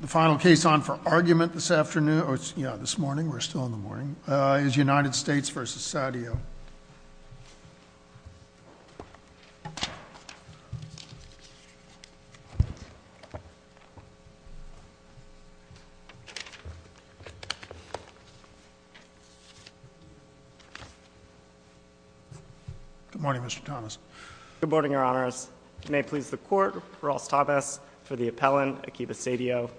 The final case on for argument this afternoon, yeah this morning, we're still in the morning, is United States v. Saudio. Good morning Mr. Thomas. Good morning your honors. May it please the court, Ross Thomas for the appellant Akiba Saudio.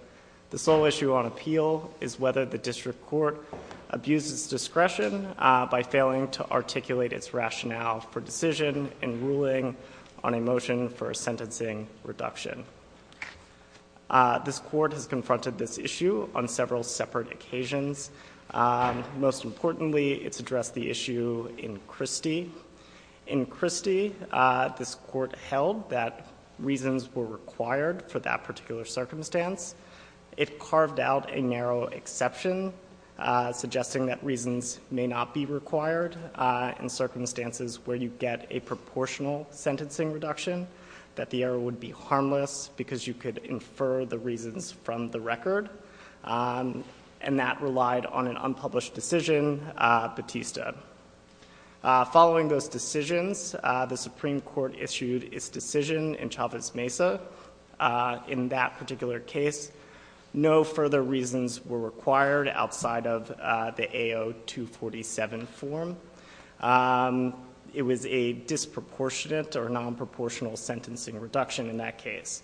The sole issue on appeal is whether the district court abuses discretion by failing to articulate its rationale for decision in ruling on a motion for a sentencing reduction. This court has confronted this issue on several separate occasions. Most importantly, it's addressed the issue in Christie. In Christie, this court held that reasons were required for that particular circumstance. It carved out a narrow exception suggesting that reasons may not be required in circumstances where you get a proportional sentencing reduction. That the error would be harmless because you could infer the reasons from the record. And that relied on an unpublished decision, Batista. Following those decisions, the Supreme Court issued its decision in Chavez Mesa. In that particular case, no further reasons were required outside of the AO 247 form. It was a disproportionate or non-proportional sentencing reduction in that case.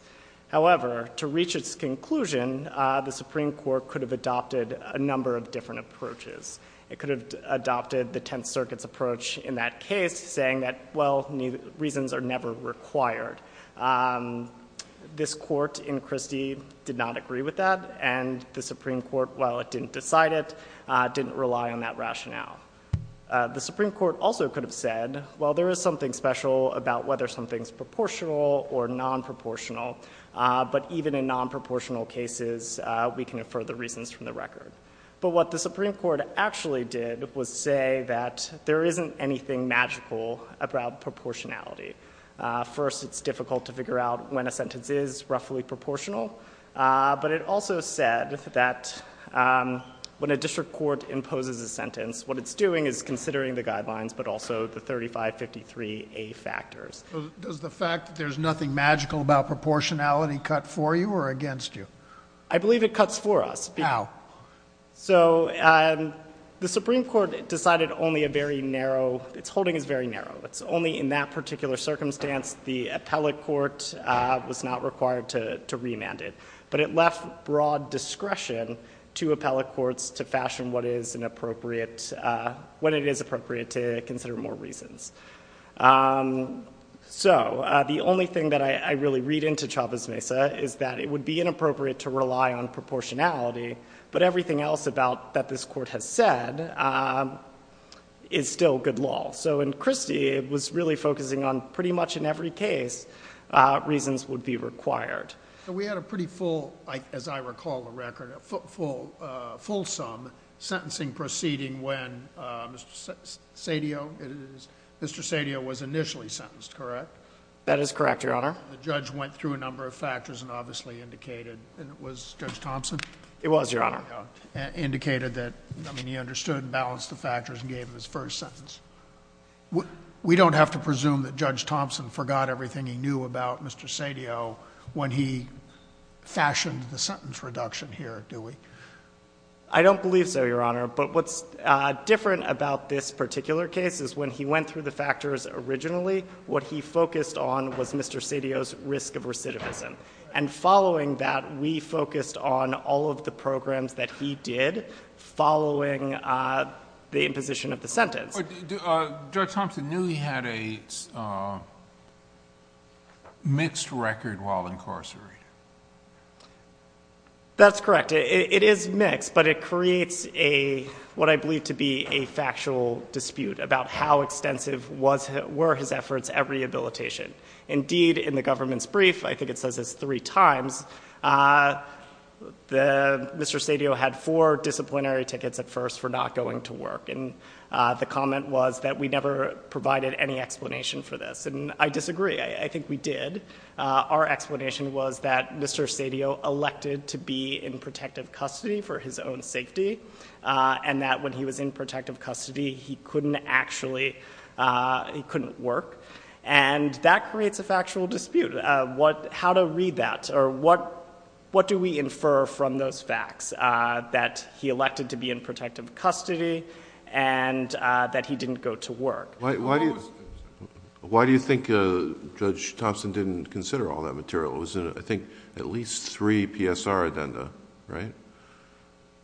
However, to reach its conclusion, the Supreme Court could have adopted a number of different approaches. It could have adopted the Tenth Circuit's approach in that case saying that, well, reasons are never required. This court in Christie did not agree with that and the Supreme Court, while it didn't decide it, didn't rely on that rationale. The Supreme Court also could have said, well, there is something special about whether something's proportional or non-proportional. But even in non-proportional cases, we can infer the reasons from the record. But what the Supreme Court actually did was say that there isn't anything magical about proportionality. First, it's difficult to figure out when a sentence is roughly proportional. But it also said that when a district court imposes a sentence, what it's doing is considering the guidelines but also the 3553A factors. Does the fact that there's nothing magical about proportionality cut for you or against you? I believe it cuts for us. How? So the Supreme Court decided only a very narrow, its holding is very narrow. It's only in that particular circumstance the appellate court was not required to remand it. But it left broad discretion to appellate courts to fashion what it is appropriate to consider more reasons. So the only thing that I really read into Chavez-Mesa is that it would be inappropriate to rely on proportionality. But everything else about that this court has said is still good law. So in Christie, it was really focusing on pretty much in every case reasons would be required. We had a pretty full, as I recall the record, a full sum sentencing proceeding when Mr. Sadio was initially sentenced, correct? That is correct, Your Honor. The judge went through a number of factors and obviously indicated, and it was Judge Thompson? It was, Your Honor. Indicated that, I mean, he understood and balanced the factors and gave his first sentence. We don't have to presume that Judge Thompson forgot everything he knew about Mr. Sadio when he fashioned the sentence reduction here, do we? I don't believe so, Your Honor. But what's different about this particular case is when he went through the factors originally, what he focused on was Mr. Sadio's risk of recidivism. And following that, we focused on all of the programs that he did following the imposition of the sentence. Judge Thompson knew he had a mixed record while incarcerated. That's correct. It is mixed, but it creates what I believe to be a factual dispute about how extensive were his efforts at rehabilitation. Indeed, in the government's brief, I think it says this three times, Mr. Sadio had four disciplinary tickets at first for not going to work. And the comment was that we never provided any explanation for this. And I disagree. I think we did. Our explanation was that Mr. Sadio elected to be in protective custody for his own safety. And that when he was in protective custody, he couldn't actually, he couldn't work. And that creates a factual dispute. How to read that or what do we infer from those facts that he elected to be in protective custody and that he didn't go to work? Why do you think Judge Thompson didn't consider all that material? It was in, I think, at least three PSR addenda, right?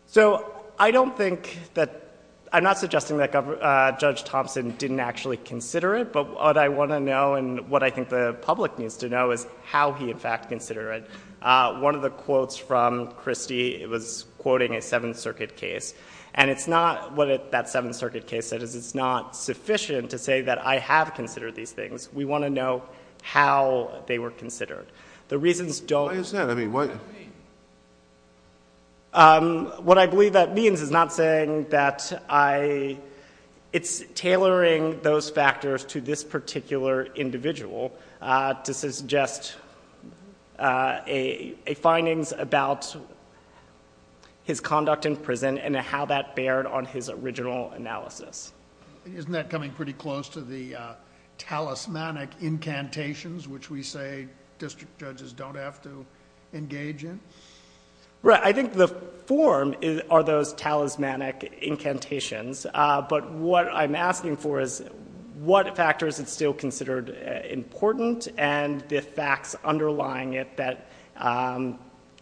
So I don't think that, I'm not suggesting that Judge Thompson didn't actually consider it. But what I want to know and what I think the public needs to know is how he, in fact, considered it. One of the quotes from Christie was quoting a Seventh Circuit case. And it's not, what that Seventh Circuit case said is it's not sufficient to say that I have considered these things. We want to know how they were considered. The reasons don't. Why is that? What does that mean? What I believe that means is not saying that I, it's tailoring those factors to this particular individual. This is just a findings about his conduct in prison and how that bared on his original analysis. Isn't that coming pretty close to the talismanic incantations which we say district judges don't have to engage in? Right. I think the form are those talismanic incantations. But what I'm asking for is what factors it's still considered important and the facts underlying it that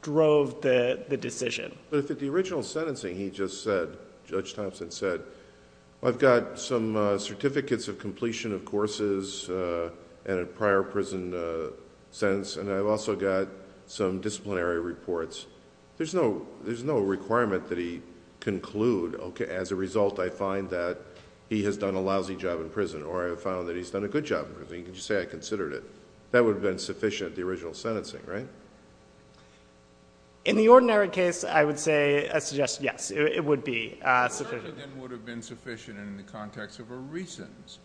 drove the decision. But if at the original sentencing he just said, Judge Thompson said, I've got some certificates of completion of courses and a prior prison sentence and I've also got some disciplinary reports. There's no requirement that he conclude, okay, as a result I find that he has done a lousy job in prison or I found that he's done a good job in prison. You can just say I considered it. That would have been sufficient at the original sentencing, right? In the ordinary case, I would say, yes, it would be sufficient. It certainly would have been sufficient in the context of a re-sentence.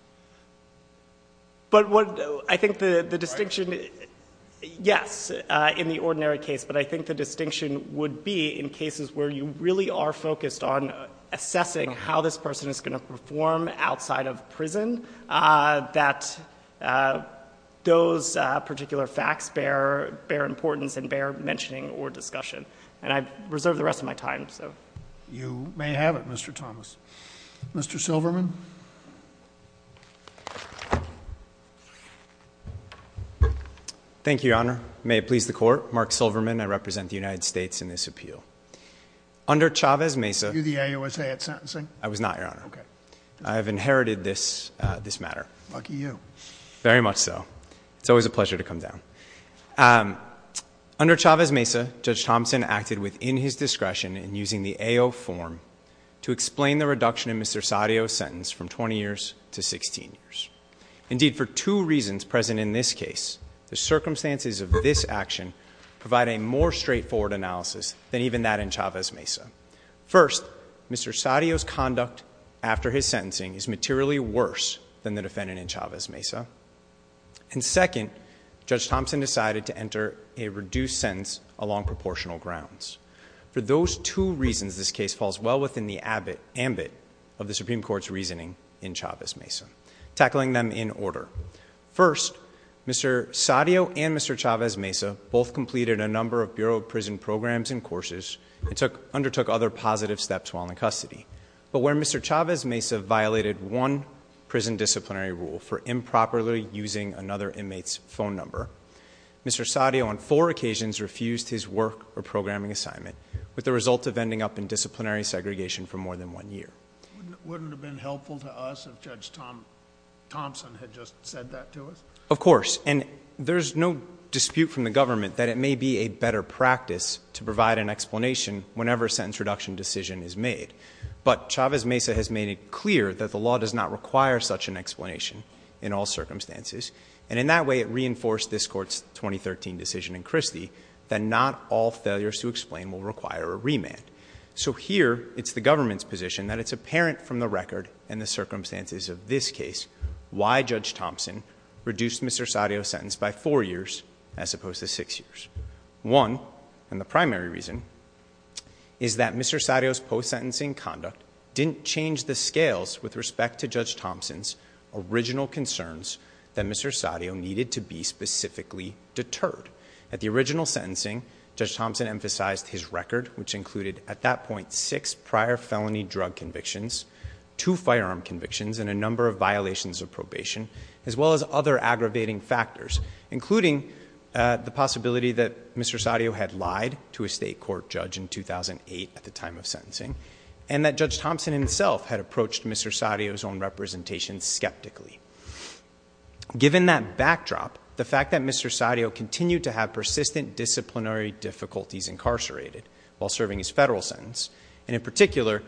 But what I think the distinction, yes, in the ordinary case, but I think the distinction would be in cases where you really are focused on assessing how this person is going to perform outside of prison, that those particular facts bear importance and bear mentioning or discussion. And I reserve the rest of my time, so. You may have it, Mr. Thomas. Mr. Silverman. Thank you, Your Honor. May it please the Court. Mark Silverman. I represent the United States in this appeal. Under Chavez-Mesa. Were you the AUSA at sentencing? I was not, Your Honor. Okay. I have inherited this matter. Lucky you. Very much so. It's always a pleasure to come down. Under Chavez-Mesa, Judge Thompson acted within his discretion in using the AO form to explain the reduction in Mr. Sadio's sentence from 20 years to 16 years. Indeed, for two reasons present in this case, the circumstances of this action provide a more straightforward analysis than even that in Chavez-Mesa. First, Mr. Sadio's conduct after his sentencing is materially worse than the defendant in Chavez-Mesa. And second, Judge Thompson decided to enter a reduced sentence along proportional grounds. For those two reasons, this case falls well within the ambit of the Supreme Court's reasoning in Chavez-Mesa, tackling them in order. First, Mr. Sadio and Mr. Chavez-Mesa both completed a number of Bureau of Prison programs and courses and undertook other positive steps while in custody. But where Mr. Chavez-Mesa violated one prison disciplinary rule for improperly using another inmate's phone number, Mr. Sadio on four occasions refused his work or programming assignment with the result of ending up in disciplinary segregation for more than one year. Wouldn't it have been helpful to us if Judge Thompson had just said that to us? Of course. And there's no dispute from the government that it may be a better practice to provide an explanation whenever a sentence reduction decision is made. But Chavez-Mesa has made it clear that the law does not require such an explanation in all circumstances. And in that way, it reinforced this Court's 2013 decision in Christie that not all failures to explain will require a remand. So here, it's the government's position that it's apparent from the record and the circumstances of this case why Judge Thompson reduced Mr. Sadio's sentence by four years as opposed to six years. One, and the primary reason, is that Mr. Sadio's post-sentencing conduct didn't change the scales with respect to Judge Thompson's original concerns that Mr. Sadio needed to be specifically deterred. At the original sentencing, Judge Thompson emphasized his record, which included at that point six prior felony drug convictions, two firearm convictions, and a number of violations of probation, as well as other aggravating factors, including the possibility that Mr. Sadio had lied to a state court judge in 2008 at the time of sentencing, and that Judge Thompson himself had approached Mr. Sadio's own representation skeptically. Given that backdrop, the fact that Mr. Sadio continued to have persistent disciplinary difficulties incarcerated while serving his federal sentence, and in particular,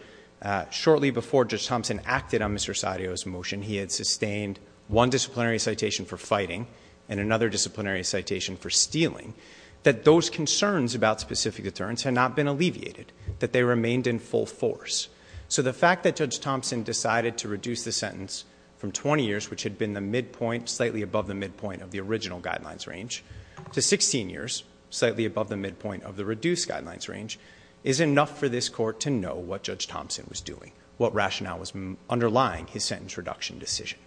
shortly before Judge Thompson acted on Mr. Sadio's motion, he had sustained one disciplinary citation for fighting and another disciplinary citation for stealing, that those concerns about specific deterrence had not been alleviated, that they remained in full force. So the fact that Judge Thompson decided to reduce the sentence from 20 years, which had been the midpoint, slightly above the midpoint of the original guidelines range, to 16 years, slightly above the midpoint of the reduced guidelines range, is enough for this Court to know what Judge Thompson was doing, what rationale was underlying his sentence reduction decision.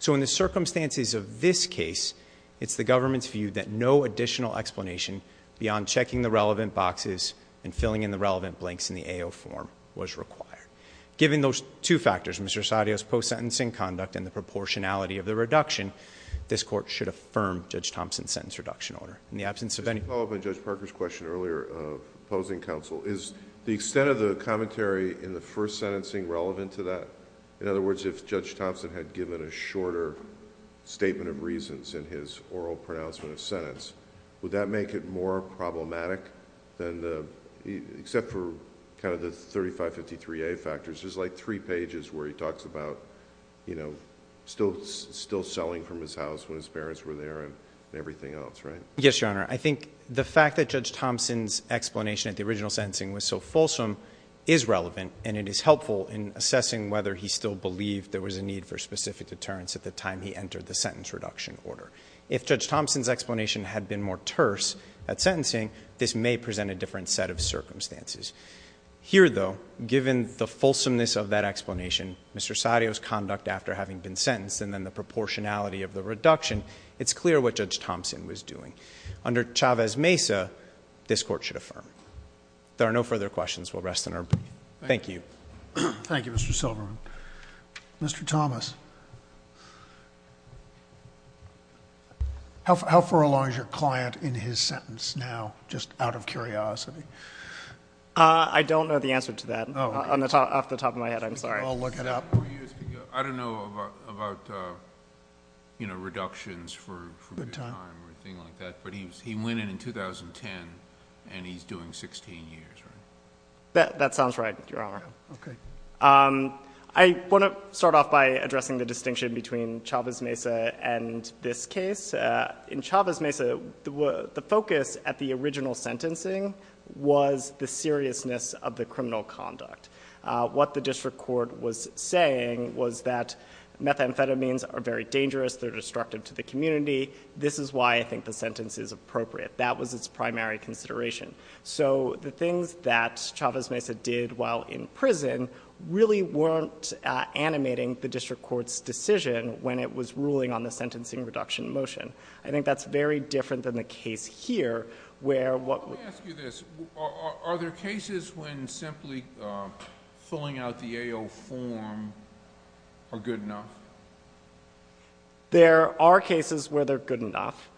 So in the circumstances of this case, it's the government's view that no additional explanation beyond checking the relevant boxes and filling in the relevant blanks in the AO form was required. Given those two factors, Mr. Sadio's post-sentencing conduct and the proportionality of the reduction, this Court should affirm Judge Thompson's sentence reduction order. In the absence of any... Just to follow up on Judge Parker's question earlier, opposing counsel, is the extent of the commentary in the first sentencing relevant to that? In other words, if Judge Thompson had given a shorter statement of reasons in his oral pronouncement of sentence, would that make it more problematic than the... except for kind of the 3553A factors, there's like three pages where he talks about still selling from his house when his parents were there and everything else, right? Yes, Your Honor. I think the fact that Judge Thompson's explanation at the original sentencing was so fulsome is relevant and it is helpful in assessing whether he still believed there was a need for specific deterrence at the time he entered the sentence reduction order. If Judge Thompson's explanation had been more terse at sentencing, this may present a different set of circumstances. Here, though, given the fulsomeness of that explanation, Mr. Sadio's conduct after having been sentenced and then the proportionality of the reduction, it's clear what Judge Thompson was doing. Under Chavez-Mesa, this Court should affirm. There are no further questions. We'll rest in our brief. Thank you. Thank you, Mr. Silverman. Mr. Thomas, how far along is your client in his sentence now, just out of curiosity? I don't know the answer to that off the top of my head. I'm sorry. We'll look it up. I don't know about reductions for time or anything like that, but he went in in 2010 and he's doing 16 years, right? That sounds right, Your Honor. Okay. I want to start off by addressing the distinction between Chavez-Mesa and this case. In Chavez-Mesa, the focus at the original sentencing was the seriousness of the criminal conduct. What the district court was saying was that methamphetamines are very dangerous. They're destructive to the community. This is why I think the sentence is appropriate. That was its primary consideration. So the things that Chavez-Mesa did while in prison really weren't animating the district court's decision when it was ruling on the sentencing reduction motion. I think that's very different than the case here where what... filling out the AO form are good enough. There are cases where they're good enough,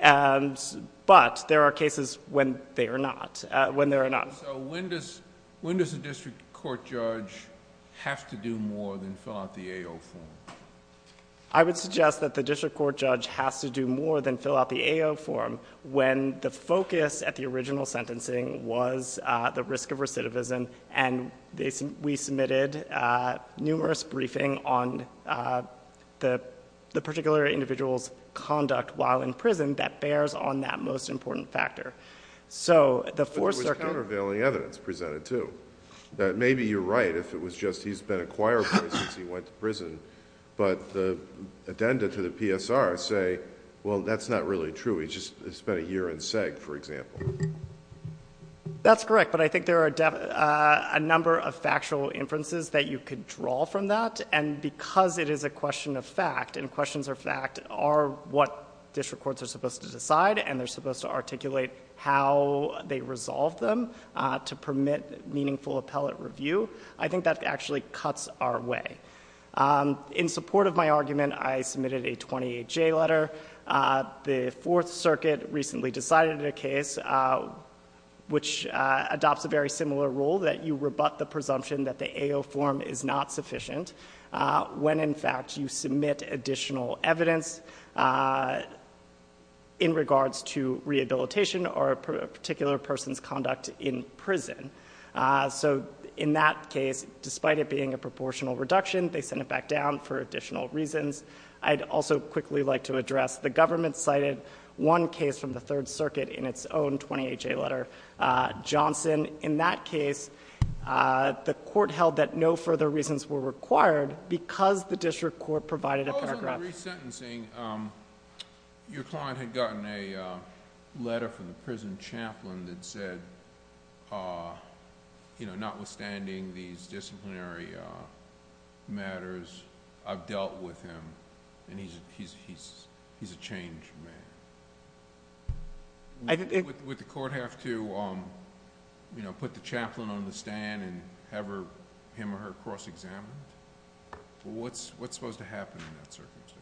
but there are cases when they are not. When does the district court judge have to do more than fill out the AO form? I would suggest that the district court judge has to do more than fill out the AO form when the focus at the original sentencing was the risk of recidivism, and we submitted numerous briefings on the particular individual's conduct while in prison that bears on that most important factor. But there was countervailing evidence presented, too. Maybe you're right if it was just he's been a choir boy since he went to prison, but the addenda to the PSR say, well, that's not really true. He just spent a year in SEG, for example. That's correct, but I think there are a number of factual inferences that you could draw from that, and because it is a question of fact and questions of fact are what district courts are supposed to decide and they're supposed to articulate how they resolve them to permit meaningful appellate review, I think that actually cuts our way. In support of my argument, I submitted a 28-J letter. The Fourth Circuit recently decided a case which adopts a very similar rule, that you rebut the presumption that the AO form is not sufficient when, in fact, you submit additional evidence in regards to rehabilitation or a particular person's conduct in prison. So in that case, despite it being a proportional reduction, they sent it back down for additional reasons. I'd also quickly like to address, the government cited one case from the Third Circuit in its own 28-J letter, Johnson. In that case, the court held that no further reasons were required because the district court provided a paragraph... In terms of resentencing, your client had gotten a letter from the prison chaplain that said, notwithstanding these disciplinary matters, I've dealt with him, and he's a changed man. Would the court have to put the chaplain on the stand and have him or her cross-examined? What's supposed to happen in that circumstance?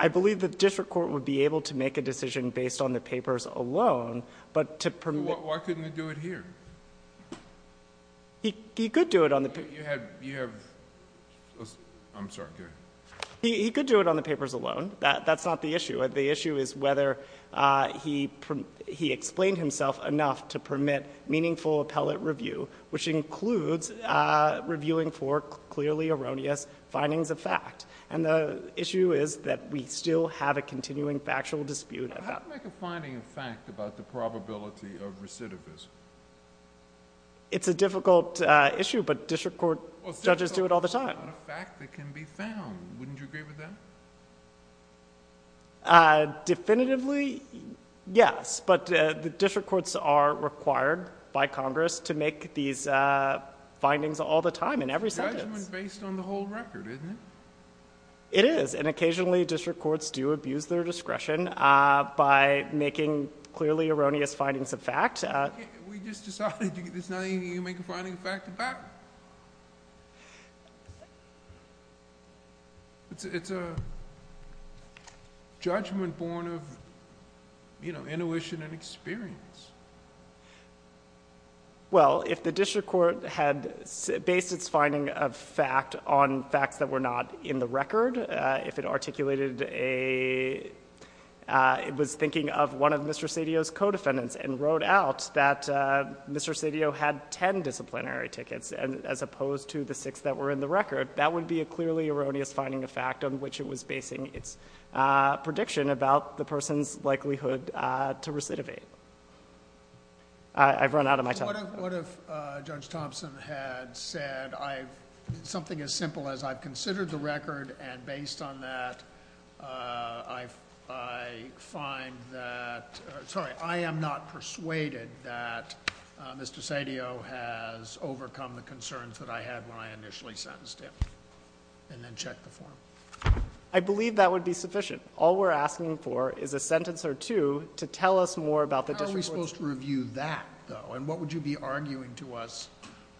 I believe the district court would be able to make a decision based on the papers alone, but to permit... Why couldn't they do it here? He could do it on the... You have... I'm sorry, go ahead. He could do it on the papers alone. That's not the issue. The issue is whether he explained himself enough to permit meaningful appellate review, which includes reviewing for clearly erroneous findings of fact. And the issue is that we still have a continuing factual dispute about that. How do you make a finding of fact about the probability of recidivism? It's a difficult issue, but district court judges do it all the time. A fact that can be found. Wouldn't you agree with that? Definitively, yes. But the district courts are required by Congress to make these findings all the time in every sentence. But that's based on the whole record, isn't it? It is, and occasionally district courts do abuse their discretion by making clearly erroneous findings of fact. We just decided there's nothing you can make a finding of fact about. It's a judgment born of, you know, intuition and experience. Well, if the district court had based its finding of fact on facts that were not in the record, if it articulated a... It was thinking of one of Mr. Cedillo's co-defendants and wrote out that Mr. Cedillo had 10 disciplinary tickets as opposed to the six that were in the record, that would be a clearly erroneous finding of fact on which it was basing its prediction about the person's likelihood to recidivate. I've run out of my time. So what if Judge Thompson had said something as simple as I've considered the record and based on that I find that... Sorry, I am not persuaded that Mr. Cedillo has overcome the concerns that I had when I initially sentenced him and then checked the form. I believe that would be sufficient. All we're asking for is a sentence or two to tell us more about the district court's... How are we supposed to review that, though? And what would you be arguing to us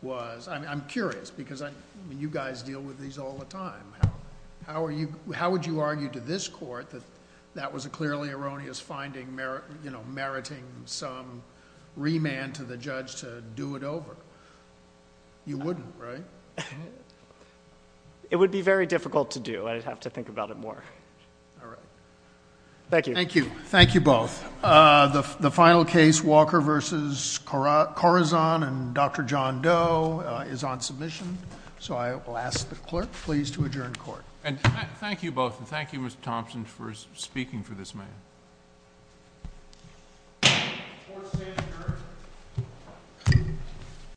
was... I'm curious because you guys deal with these all the time. How would you argue to this court that that was a clearly erroneous finding meriting some remand to the judge to do it over? You wouldn't, right? It would be very difficult to do. I'd have to think about it more. All right. Thank you. Thank you. Thank you both. The final case, Walker v. Corazon and Dr. John Doe, is on submission. So I will ask the clerk, please, to adjourn court. Thank you both. And thank you, Mr. Thompson, for speaking for this man.